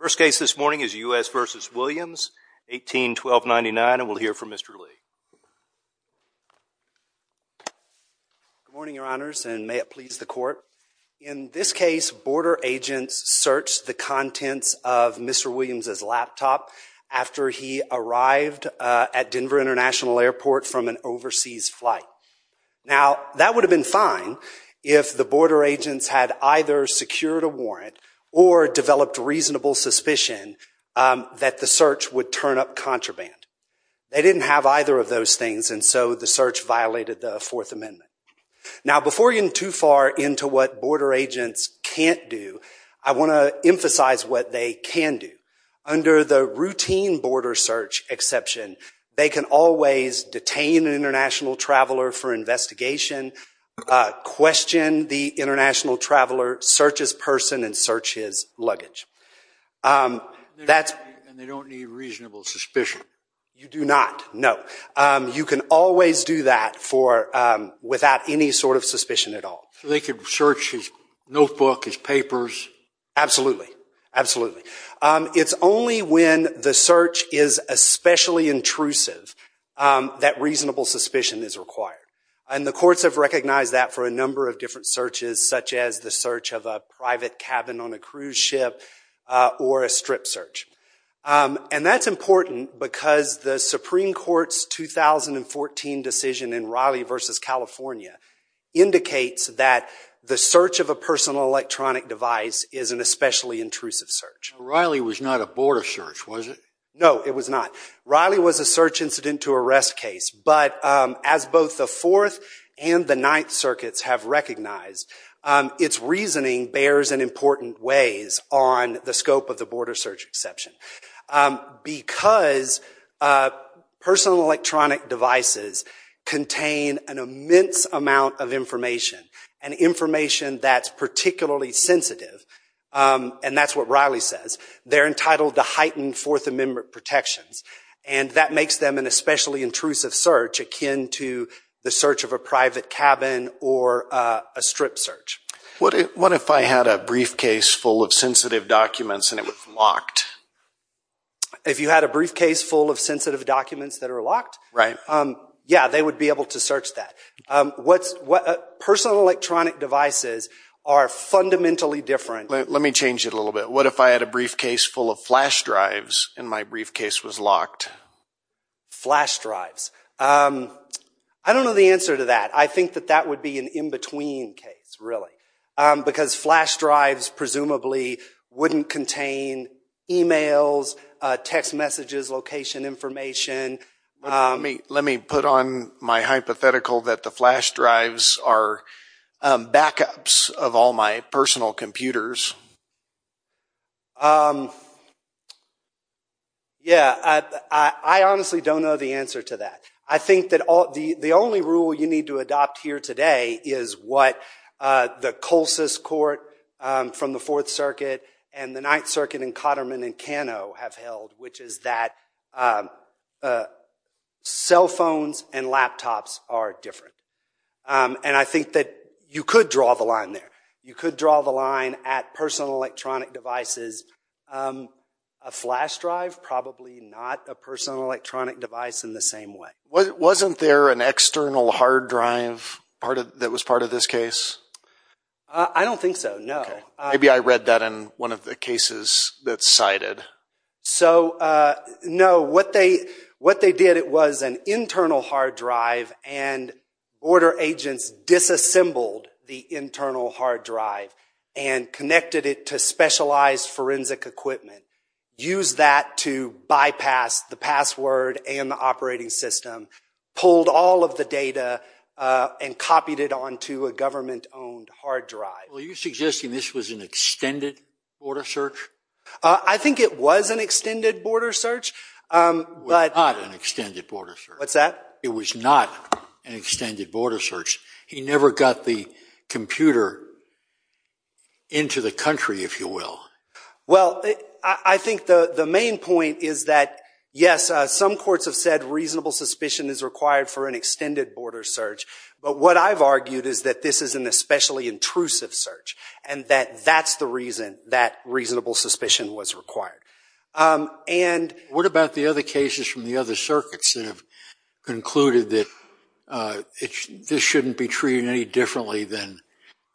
First case this morning is U.S. v. Williams, 18-1299, and we'll hear from Mr. Lee. Good morning, your honors, and may it please the court. In this case, border agents searched the contents of Mr. Williams' laptop after he arrived at Denver International Airport from an overseas flight. Now, that would have been fine if the border agents had either secured a warrant or developed reasonable suspicion that the search would turn up contraband. They didn't have either of those things, and so the search violated the Fourth Amendment. Now, before getting too far into what border agents can't do, I want to emphasize what they can do. Under the routine border search exception, they can always detain an international traveler for investigation, question the international traveler, search his person, and search his luggage. And they don't need reasonable suspicion? You do not, no. You can always do that without any sort of suspicion at all. So they could search his notebook, his papers? Absolutely, absolutely. It's only when the search is especially intrusive that reasonable suspicion is required. And the courts have recognized that for a number of different searches, such as the search of a private cabin on a cruise ship or a strip search. And that's important because the Supreme Court's 2014 decision in Riley v. California indicates that the search of a personal electronic device is an especially intrusive search. Riley was not a border search, was it? No, it was not. Riley was a search incident to arrest case. But as both the Fourth and the Ninth Circuits have recognized, its reasoning bears in important ways on the scope of the border search exception. Because personal electronic devices contain an immense amount of information, and information that's particularly sensitive, and that's what Riley says, they're entitled to heightened Fourth Amendment protections. And that makes them an especially intrusive search akin to the search of a private cabin or a strip search. What if I had a briefcase full of sensitive documents and it was locked? If you had a briefcase full of sensitive documents that are locked? Right. Yeah, they would be able to search that. Personal electronic devices are fundamentally different. Let me change it a little bit. What if I had a briefcase full of flash drives and my briefcase was locked? Flash drives. I don't know the answer to that. I think that that would be an in-between case, really. Because flash drives presumably wouldn't contain e-mails, text messages, location information. Let me put on my hypothetical that the flash drives are backups of all my personal computers. Yeah, I honestly don't know the answer to that. I think that the only rule you need to adopt here today is what the Colsus Court from the Fourth Circuit and the Ninth Circuit and Katterman and Cano have held, which is that cell phones and laptops are different. And I think that you could draw the line there. You could draw the line at personal electronic devices. A flash drive, probably not a personal electronic device in the same way. Wasn't there an external hard drive that was part of this case? I don't think so, no. Maybe I read that in one of the cases that's cited. So, no. What they did, it was an internal hard drive, and border agents disassembled the internal hard drive and connected it to specialized forensic equipment, used that to bypass the password and the operating system, pulled all of the data, and copied it onto a government-owned hard drive. Are you suggesting this was an extended border search? I think it was an extended border search. It was not an extended border search. What's that? It was not an extended border search. He never got the computer into the country, if you will. Well, I think the main point is that, yes, some courts have said reasonable suspicion is required for an extended border search. But what I've argued is that this is an especially intrusive search and that that's the reason that reasonable suspicion was required. What about the other cases from the other circuits that have concluded that this shouldn't be treated any differently than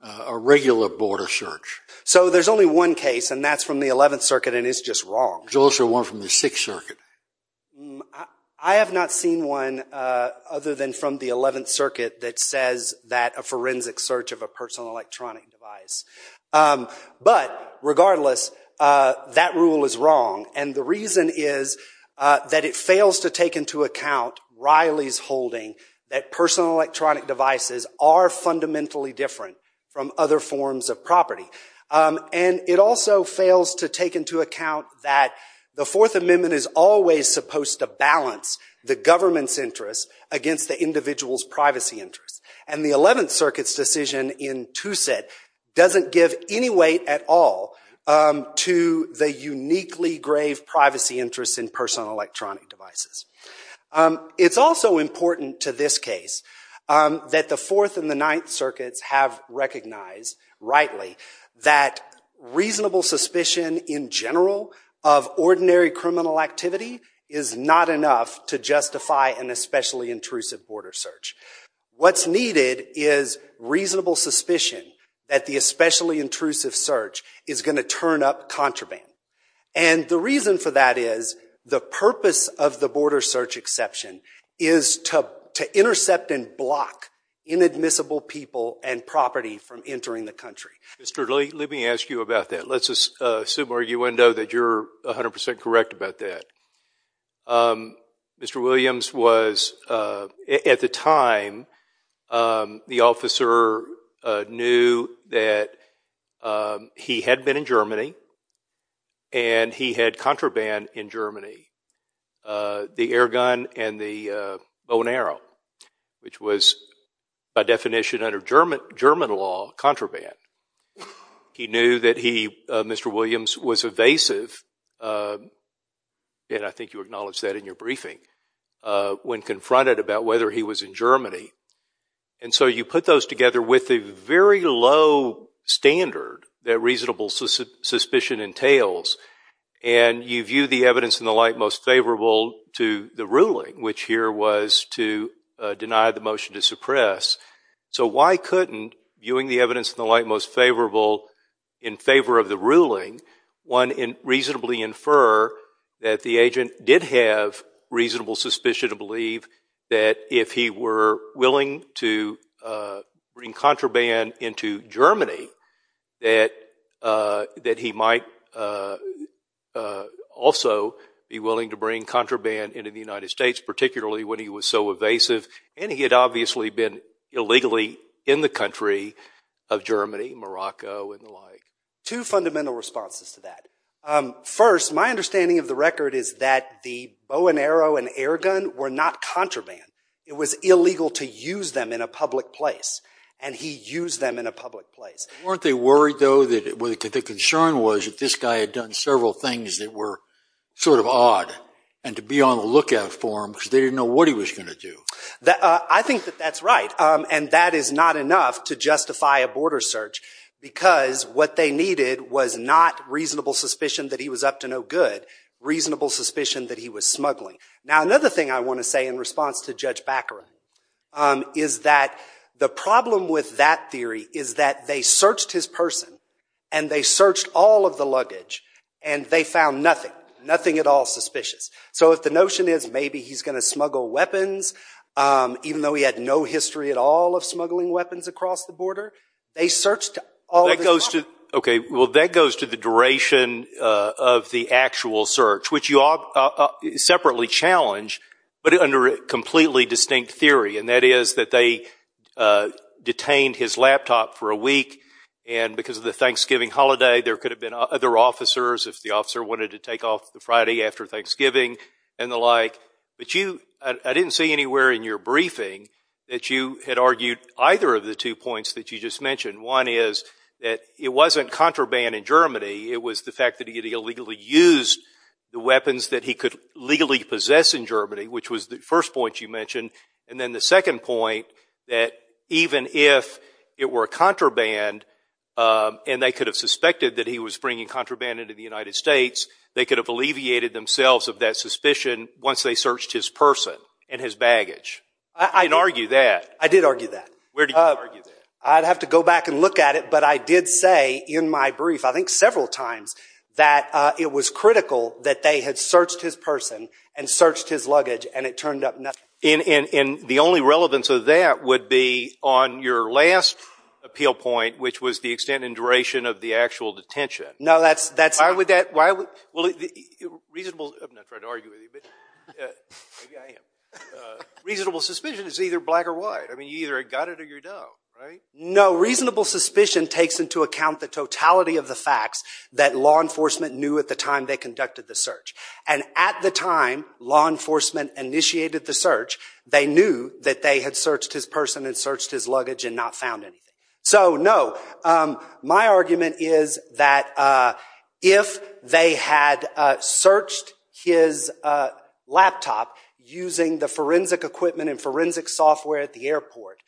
a regular border search? So there's only one case, and that's from the 11th Circuit, and it's just wrong. There's also one from the 6th Circuit. I have not seen one other than from the 11th Circuit that says that a forensic search of a personal electronic device. But regardless, that rule is wrong, and the reason is that it fails to take into account Riley's holding that personal electronic devices are fundamentally different from other forms of property. And it also fails to take into account that the Fourth Amendment is always supposed to balance the government's interests against the individual's privacy interests. And the 11th Circuit's decision in TwoSet doesn't give any weight at all to the uniquely grave privacy interests in personal electronic devices. It's also important to this case that the Fourth and the Ninth Circuits have recognized rightly that reasonable suspicion in general of ordinary criminal activity is not enough to justify an especially intrusive border search. What's needed is reasonable suspicion that the especially intrusive search is going to turn up contraband. And the reason for that is the purpose of the border search exception is to intercept and block inadmissible people and property from entering the country. Mr. Lee, let me ask you about that. Let's assume, arguendo, that you're 100% correct about that. Mr. Williams was, at the time, the officer knew that he had been in Germany and he had contraband in Germany, the air gun and the bow and arrow, which was, by definition under German law, contraband. He knew that he, Mr. Williams, was evasive, and I think you acknowledged that in your briefing, when confronted about whether he was in Germany. And so you put those together with a very low standard that reasonable suspicion entails, and you view the evidence in the light most favorable to the ruling, which here was to deny the motion to suppress. So why couldn't, viewing the evidence in the light most favorable in favor of the ruling, one reasonably infer that the agent did have reasonable suspicion to believe that if he were willing to bring contraband into Germany, that he might also be willing to bring contraband into the United States, particularly when he was so evasive and he had obviously been illegally in the country of Germany, Morocco and the like. Two fundamental responses to that. First, my understanding of the record is that the bow and arrow and air gun were not contraband. It was illegal to use them in a public place, and he used them in a public place. Weren't they worried, though, that the concern was that this guy had done several things that were sort of odd, and to be on the lookout for him because they didn't know what he was going to do? I think that that's right, and that is not enough to justify a border search because what they needed was not reasonable suspicion that he was up to no good, reasonable suspicion that he was smuggling. Now another thing I want to say in response to Judge Baccarat is that the problem with that theory is that they searched his person and they searched all of the luggage and they found nothing, nothing at all suspicious. So if the notion is maybe he's going to smuggle weapons, even though he had no history at all of smuggling weapons across the border, they searched all of his property. Okay, well that goes to the duration of the actual search, which you all separately challenge, but under a completely distinct theory, and that is that they detained his laptop for a week, and because of the Thanksgiving holiday there could have been other officers if the officer wanted to take off the Friday after Thanksgiving and the like, but I didn't see anywhere in your briefing that you had argued either of the two points that you just mentioned. One is that it wasn't contraband in Germany. It was the fact that he had illegally used the weapons that he could legally possess in Germany, which was the first point you mentioned, and then the second point that even if it were contraband and they could have suspected that he was bringing contraband into the United States, they could have alleviated themselves of that suspicion once they searched his person and his baggage. I'd argue that. I did argue that. Where did you argue that? I'd have to go back and look at it, but I did say in my brief, I think several times, that it was critical that they had searched his person and searched his luggage and it turned up nothing. And the only relevance of that would be on your last appeal point, which was the extent and duration of the actual detention. No, that's not. Why would that? I'm not trying to argue with you, but maybe I am. Reasonable suspicion is either black or white. I mean, you either got it or you don't, right? No, reasonable suspicion takes into account the totality of the facts that law enforcement knew at the time they conducted the search, and at the time law enforcement initiated the search, they knew that they had searched his person and searched his luggage and not found anything. So, no, my argument is that if they had searched his laptop using the forensic equipment and forensic software at the airport,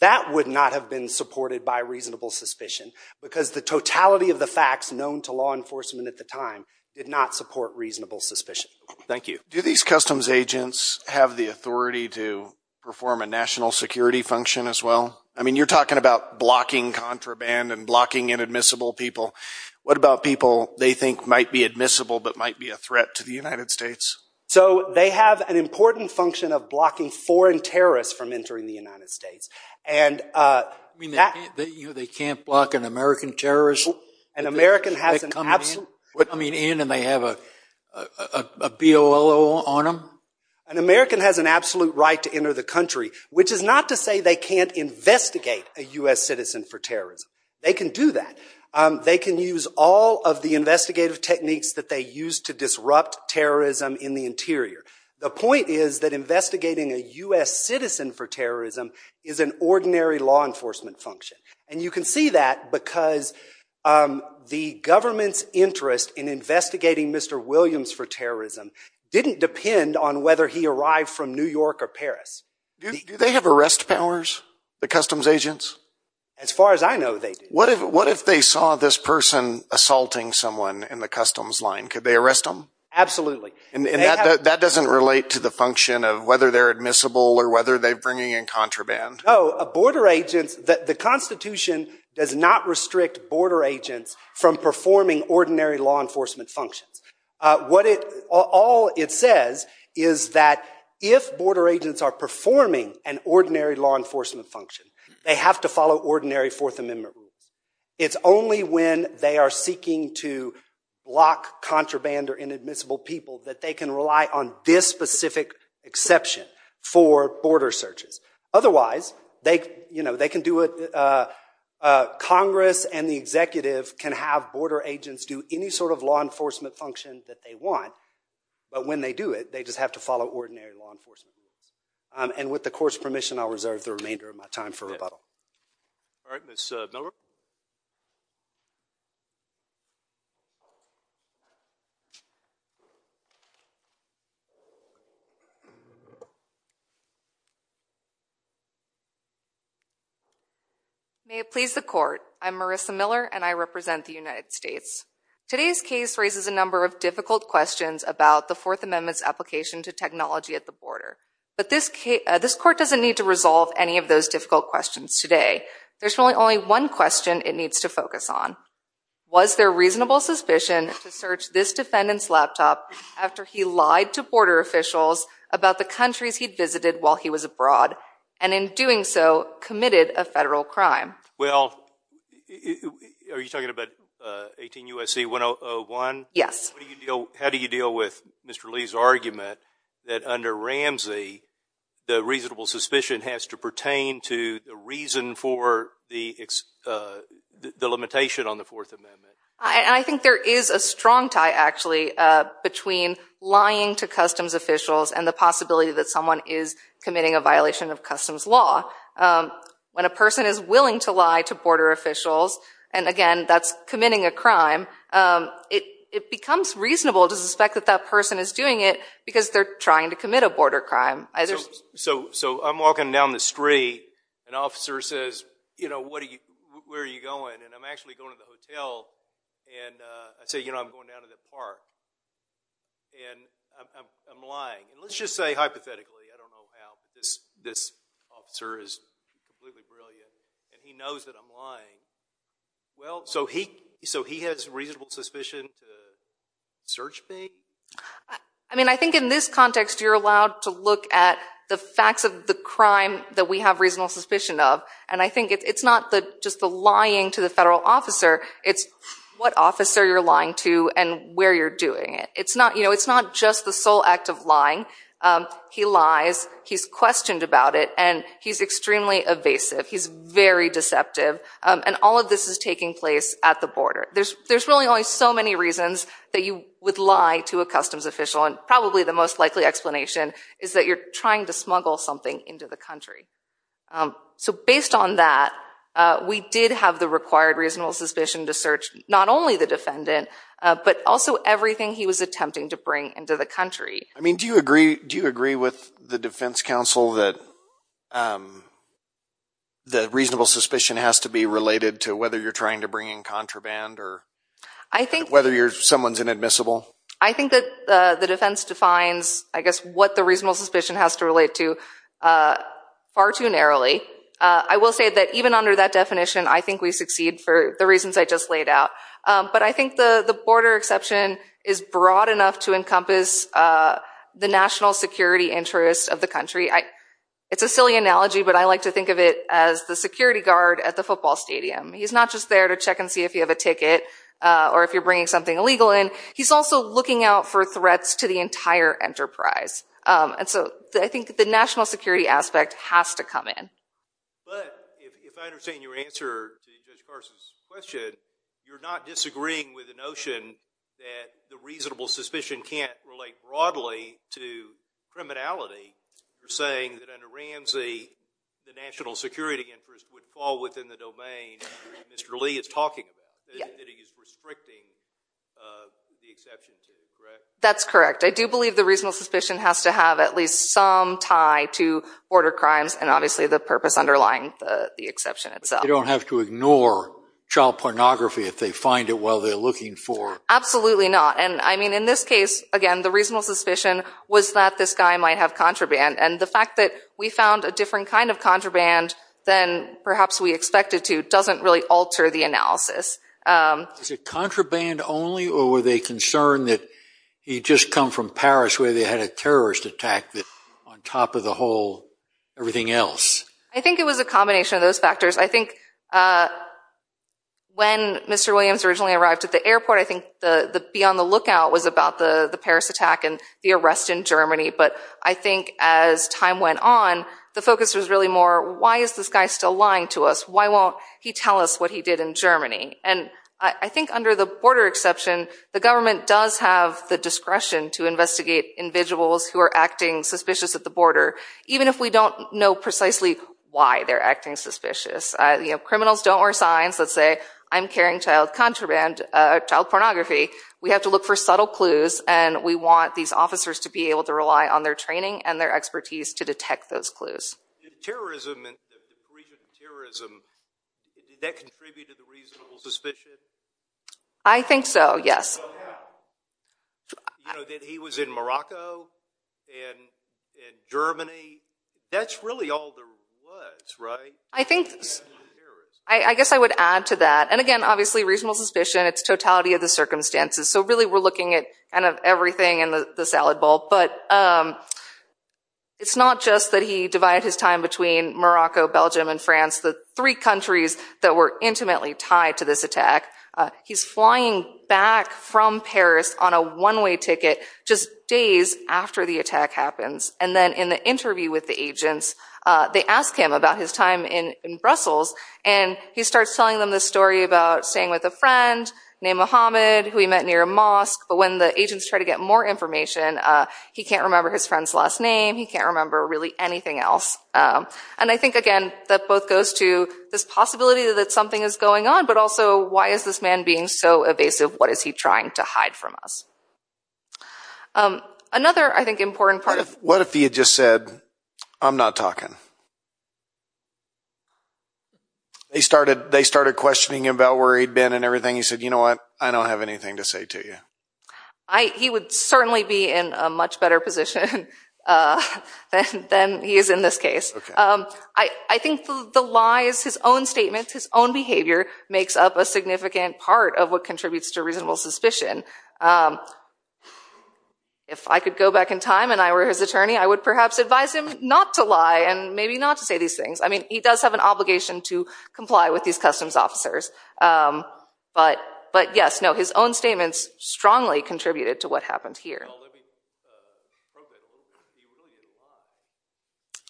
that would not have been supported by reasonable suspicion because the totality of the facts known to law enforcement at the time did not support reasonable suspicion. Thank you. Do these customs agents have the authority to perform a national security function as well? I mean, you're talking about blocking contraband and blocking inadmissible people. What about people they think might be admissible but might be a threat to the United States? So they have an important function of blocking foreign terrorists from entering the United States. I mean, they can't block an American terrorist? They come in and they have a BOLO on them? An American has an absolute right to enter the country, which is not to say they can't investigate a U.S. citizen for terrorism. They can do that. They can use all of the investigative techniques that they use to disrupt terrorism in the interior. The point is that investigating a U.S. citizen for terrorism is an ordinary law enforcement function, and you can see that because the government's interest in investigating Mr. Williams for terrorism didn't depend on whether he arrived from New York or Paris. Do they have arrest powers, the customs agents? As far as I know, they do. What if they saw this person assaulting someone in the customs line? Could they arrest them? Absolutely. And that doesn't relate to the function of whether they're admissible or whether they're bringing in contraband? No, the Constitution does not restrict border agents from performing ordinary law enforcement functions. All it says is that if border agents are performing an ordinary law enforcement function, they have to follow ordinary Fourth Amendment rules. It's only when they are seeking to block contraband or inadmissible people that they can rely on this specific exception for border searches. Otherwise, Congress and the executive can have border agents do any sort of law enforcement function that they want, but when they do it, they just have to follow ordinary law enforcement rules. And with the Court's permission, I'll reserve the remainder of my time for rebuttal. All right, Ms. Miller? May it please the Court. I'm Marissa Miller, and I represent the United States. Today's case raises a number of difficult questions about the Fourth Amendment's application to technology at the border. But this Court doesn't need to resolve any of those difficult questions today. There's really only one question it needs to focus on. Was there reasonable suspicion to search this defendant's laptop after he lied to border officials about the countries he'd visited while he was abroad, and in doing so, committed a federal crime? Well, are you talking about 18 U.S.C. 1001? Yes. How do you deal with Mr. Lee's argument that under Ramsey, the reasonable suspicion has to pertain to the reason for the limitation on the Fourth Amendment? I think there is a strong tie, actually, between lying to customs officials and the possibility that someone is committing a violation of customs law. When a person is willing to lie to border officials, and again, that's committing a crime, it becomes reasonable to suspect that that person is doing it because they're trying to commit a border crime. So I'm walking down the street. An officer says, you know, where are you going? And I'm actually going to the hotel. And I say, you know, I'm going down to the park. And I'm lying. And let's just say, hypothetically, I don't know how, but this officer is completely brilliant, and he knows that I'm lying. So he has reasonable suspicion to search me? I mean, I think in this context, you're allowed to look at the facts of the crime that we have reasonable suspicion of, and I think it's not just the lying to the federal officer. It's what officer you're lying to and where you're doing it. It's not just the sole act of lying. He lies. He's questioned about it. And he's extremely evasive. He's very deceptive. And all of this is taking place at the border. There's really only so many reasons that you would lie to a customs official, and probably the most likely explanation is that you're trying to smuggle something into the country. So based on that, we did have the required reasonable suspicion to search not only the defendant, but also everything he was attempting to bring into the country. I mean, do you agree with the defense counsel that the reasonable suspicion has to be related to whether you're trying to bring in contraband or whether someone's inadmissible? I think that the defense defines, I guess, what the reasonable suspicion has to relate to far too narrowly. I will say that even under that definition, I think we succeed for the reasons I just laid out. But I think the border exception is broad enough to encompass the national security interests of the country. It's a silly analogy, but I like to think of it as the security guard at the football stadium. He's not just there to check and see if you have a ticket or if you're bringing something illegal in. He's also looking out for threats to the entire enterprise. So I think the national security aspect has to come in. But if I understand your answer to Judge Carson's question, you're not disagreeing with the notion that the reasonable suspicion can't relate broadly to criminality. You're saying that under Ramsey, the national security interest would fall within the domain that Mr. Lee is talking about, that he is restricting the exception to, correct? That's correct. I do believe the reasonable suspicion has to have at least some tie to border crimes and obviously the purpose underlying the exception itself. They don't have to ignore child pornography if they find it while they're looking for it. Absolutely not. And I mean, in this case, again, the reasonable suspicion was that this guy might have contraband. And the fact that we found a different kind of contraband than perhaps we expected to doesn't really alter the analysis. Is it contraband only or were they concerned that he'd just come from Paris where they had a terrorist attack on top of the whole everything else? I think it was a combination of those factors. I think when Mr. Williams originally arrived at the airport, and the arrest in Germany. But I think as time went on, the focus was really more, why is this guy still lying to us? Why won't he tell us what he did in Germany? And I think under the border exception, the government does have the discretion to investigate individuals who are acting suspicious at the border, even if we don't know precisely why they're acting suspicious. Criminals don't wear signs that say, I'm carrying child contraband, child pornography. We have to look for subtle clues and we want these officers to be able to rely on their training and their expertise to detect those clues. Terrorism and the depletion of terrorism, did that contribute to the reasonable suspicion? I think so, yes. That he was in Morocco and Germany, that's really all there was, right? I guess I would add to that. And again, obviously, reasonable suspicion, it's totality of the circumstances. So really, we're looking at everything in the salad bowl. But it's not just that he divided his time between Morocco, Belgium, and France, the three countries that were intimately tied to this attack. He's flying back from Paris on a one-way ticket just days after the attack happens. And then in the interview with the agents, they ask him about his time in Brussels, and he starts telling them this story about staying with a friend, named Mohammed, who he met near a mosque. But when the agents try to get more information, he can't remember his friend's last name, he can't remember really anything else. And I think, again, that both goes to this possibility that something is going on, but also, why is this man being so evasive? What is he trying to hide from us? Another, I think, important part of... What if he had just said, I'm not talking? They started questioning him about where he'd been and everything. You said, you know what, I don't have anything to say to you. He would certainly be in a much better position than he is in this case. I think the lies, his own statements, his own behavior makes up a significant part of what contributes to reasonable suspicion. If I could go back in time and I were his attorney, I would perhaps advise him not to lie and maybe not to say these things. I mean, he does have an obligation to comply with these customs officers. But, yes, no, his own statements strongly contributed to what happened here. Well, let me probe that a little bit. He really didn't lie.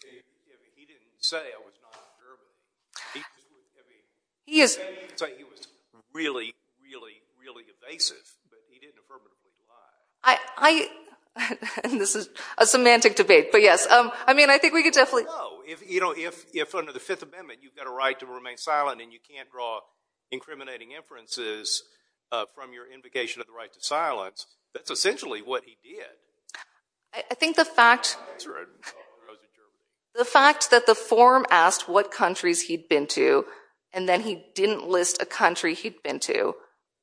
I mean, he didn't say I was non-observant. He just was... He is... He said he was really, really, really evasive, but he didn't affirmatively lie. I... This is a semantic debate, but yes. I mean, I think we could definitely... No, if under the Fifth Amendment you've got a right to remain silent and you can't draw incriminating inferences from your invocation of the right to silence, that's essentially what he did. I think the fact... The fact that the form asked what countries he'd been to and then he didn't list a country he'd been to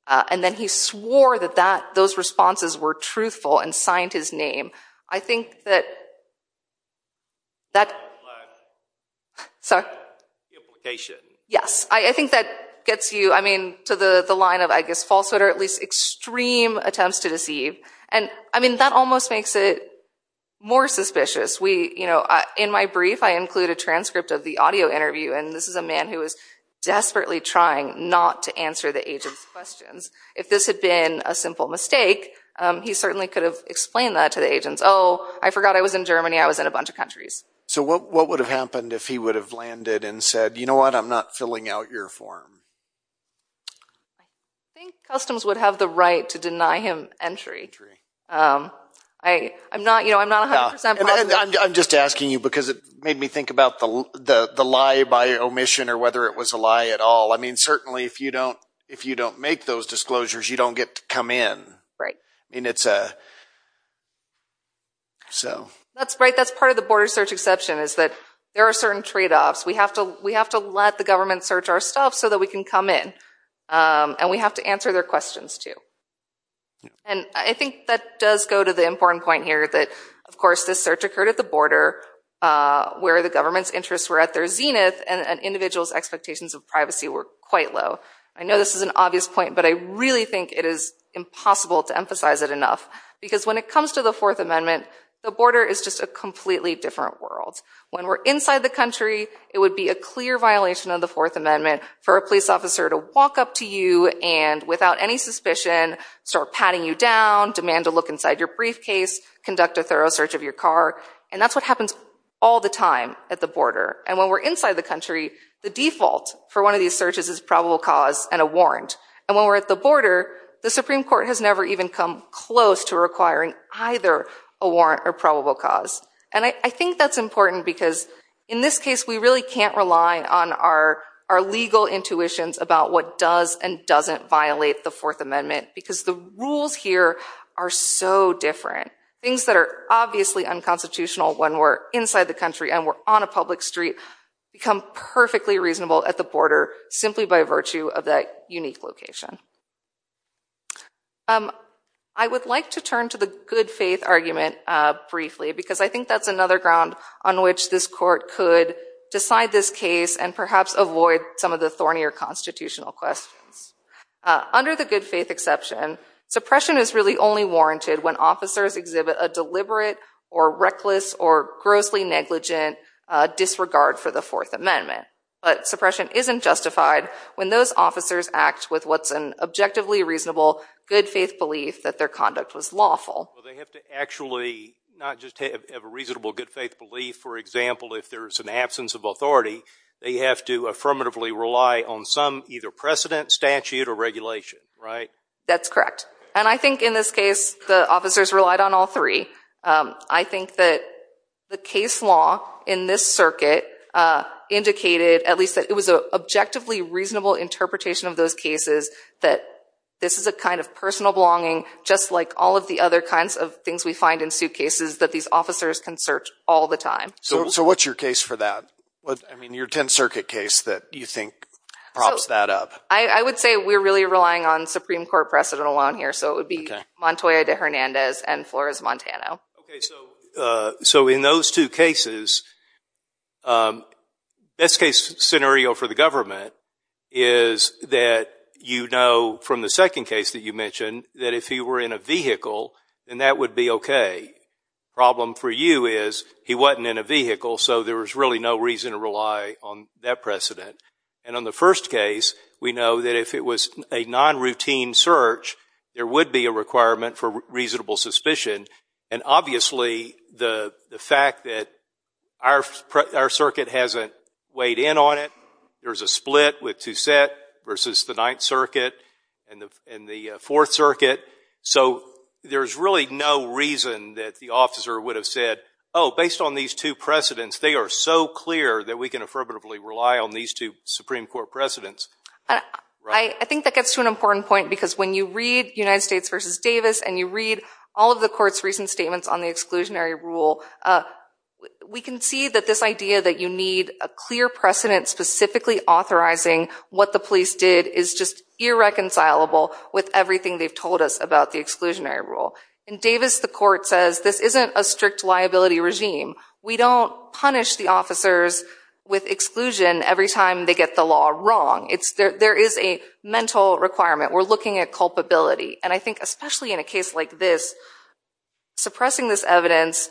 and then he swore that those responses were truthful and signed his name, I think that... That... I think that gets you, I mean, to the line of, I guess, falsehood or at least extreme attempts to deceive. And, I mean, that almost makes it more suspicious. We, you know... In my brief, I include a transcript of the audio interview, and this is a man who was desperately trying not to answer the agent's questions. If this had been a simple mistake, he certainly could have explained that to the agents. Oh, I forgot I was in Germany. I was in a bunch of countries. So what would have happened if he would have landed and said, you know what, I'm not filling out your form? I think customs would have the right to deny him entry. Entry. I'm not 100% positive. I'm just asking you because it made me think about the lie by omission or whether it was a lie at all. I mean, certainly, if you don't make those disclosures, you don't get to come in. Right. I mean, it's a... That's part of the border search exception, is that there are certain trade-offs. We have to let the government search our stuff so that we can come in. And we have to answer their questions, too. And I think that does go to the important point here that, of course, this search occurred at the border, where the government's interests were at their zenith, and an individual's expectations of privacy were quite low. I know this is an obvious point, but I really think it is impossible to emphasize it enough because when it comes to the Fourth Amendment, the border is just a completely different world. When we're inside the country, it would be a clear violation of the Fourth Amendment for a police officer to walk up to you and, without any suspicion, start patting you down, demand a look inside your briefcase, conduct a thorough search of your car. And that's what happens all the time at the border. And when we're inside the country, the default for one of these searches is probable cause and a warrant. And when we're at the border, the Supreme Court has never even come close to requiring either a warrant or probable cause. And I think that's important because, in this case, we really can't rely on our legal intuitions about what does and doesn't violate the Fourth Amendment because the rules here are so different. Things that are obviously unconstitutional when we're inside the country and we're on a public street become perfectly reasonable at the border simply by virtue of that unique location. I would like to turn to the good-faith argument briefly because I think that's another ground on which this court could decide this case and perhaps avoid some of the thornier constitutional questions. Under the good-faith exception, suppression is really only warranted when officers exhibit a deliberate or reckless or grossly negligent disregard for the Fourth Amendment. But suppression isn't justified when those officers act with what's an objectively reasonable good-faith belief that their conduct was lawful. Well, they have to actually not just have a reasonable good-faith belief. For example, if there's an absence of authority, they have to affirmatively rely on some either precedent, statute, or regulation, right? That's correct. And I think, in this case, the officers relied on all three. I think that the case law in this circuit indicated at least that it was an objectively reasonable interpretation of those cases that this is a kind of personal belonging, just like all of the other kinds of things we find in suitcases, that these officers can search all the time. So what's your case for that? I mean, your Tenth Circuit case that you think props that up. I would say we're really relying on Supreme Court precedent alone here, so it would be Montoya de Hernandez and Flores-Montano. Okay, so in those two cases, best-case scenario for the government is that you know from the second case that you mentioned that if he were in a vehicle, then that would be okay. Problem for you is he wasn't in a vehicle, so there was really no reason to rely on that precedent. And on the first case, we know that if it was a non-routine search, there would be a requirement for reasonable suspicion, and obviously the fact that our circuit hasn't weighed in on it, there's a split with Toussaint versus the Ninth Circuit and the Fourth Circuit, so there's really no reason that the officer would have said, oh, based on these two precedents, they are so clear that we can affirmatively rely on these two Supreme Court precedents. I think that gets to an important point, because when you read United States v. Davis and you read all of the court's recent statements on the exclusionary rule, we can see that this idea that you need a clear precedent specifically authorizing what the police did is just irreconcilable with everything they've told us about the exclusionary rule. In Davis, the court says this isn't a strict liability regime. We don't punish the officers with exclusion every time they get the law wrong. There is a mental requirement. We're looking at culpability, and I think especially in a case like this, suppressing this evidence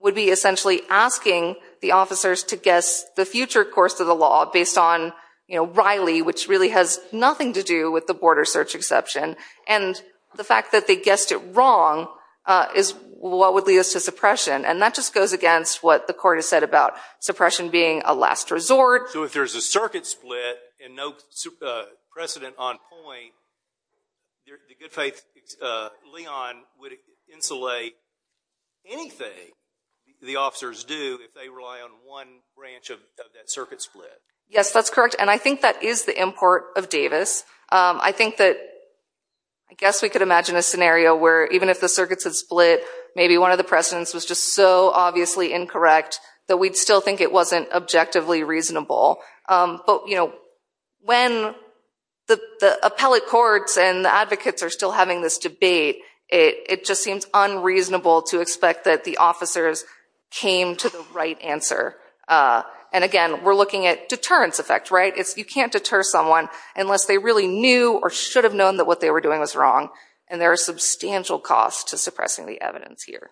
would be essentially asking the officers to guess the future course of the law based on Riley, which really has nothing to do with the border search exception, and the fact that they guessed it wrong is what would lead us to suppression, and that just goes against what the court has said about suppression being a last resort. So if there's a circuit split and no precedent on point, the good faith Leon would insulate anything the officers do if they rely on one branch of that circuit split. Yes, that's correct, and I think that is the import of Davis. I think that I guess we could imagine a scenario where even if the circuits had split, maybe one of the precedents was just so obviously incorrect that we'd still think it wasn't objectively reasonable. But when the appellate courts and the advocates are still having this debate, it just seems unreasonable to expect that the officers came to the right answer. And again, we're looking at deterrence effect, right? You can't deter someone unless they really knew or should have known that what they were doing was wrong, and there are substantial costs to suppressing the evidence here.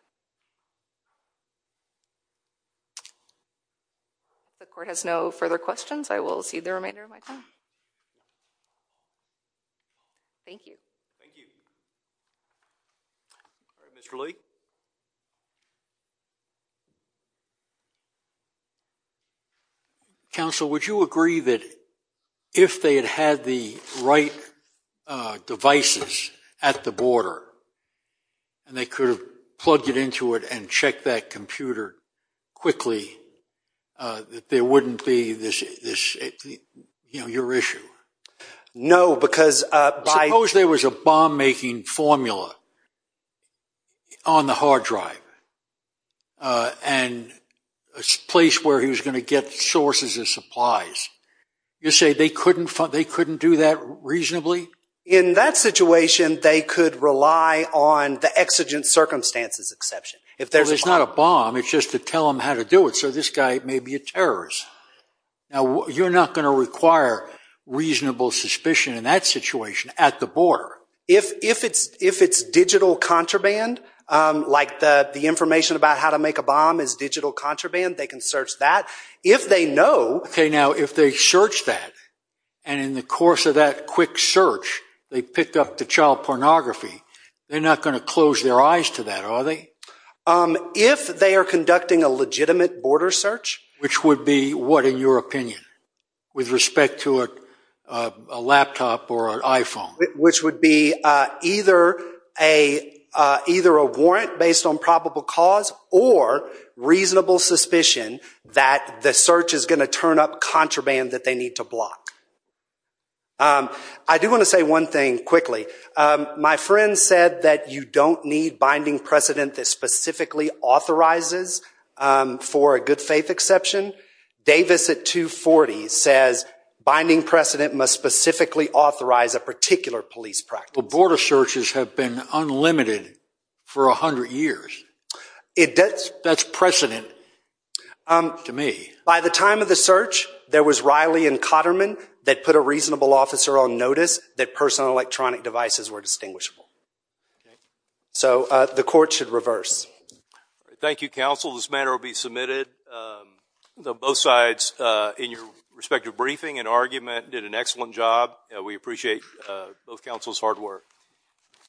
If the court has no further questions, I will cede the remainder of my time. Thank you. Thank you. All right, Mr. Lee. Counsel, would you agree that if they had had the right devices at the border and they could have plugged it into it and checked that computer quickly, that there wouldn't be this, you know, your issue? No, because by... Suppose there was a bomb-making formula on the hard drive and a place where he was going to get sources of supplies. You say they couldn't do that reasonably? In that situation, they could rely on the exigent circumstances exception. Well, it's not a bomb. It's just to tell them how to do it. So this guy may be a terrorist. Now, you're not going to require reasonable suspicion in that situation at the border. If it's digital contraband, like the information about how to make a bomb is digital contraband, they can search that. If they know... And in the course of that quick search, they picked up the child pornography. They're not going to close their eyes to that, are they? If they are conducting a legitimate border search... Which would be what, in your opinion, with respect to a laptop or an iPhone? Which would be either a warrant based on probable cause or reasonable suspicion that the search is going to turn up contraband that they need to block? I do want to say one thing quickly. My friend said that you don't need binding precedent that specifically authorizes for a good faith exception. Davis at 240 says binding precedent must specifically authorize a particular police practice. Border searches have been unlimited for 100 years. That's precedent to me. By the time of the search, there was Riley and Cotterman that put a reasonable officer on notice that personal electronic devices were distinguishable. So the court should reverse. Thank you, counsel. This matter will be submitted. Both sides, in your respective briefing and argument, did an excellent job. We appreciate both counsel's hard work.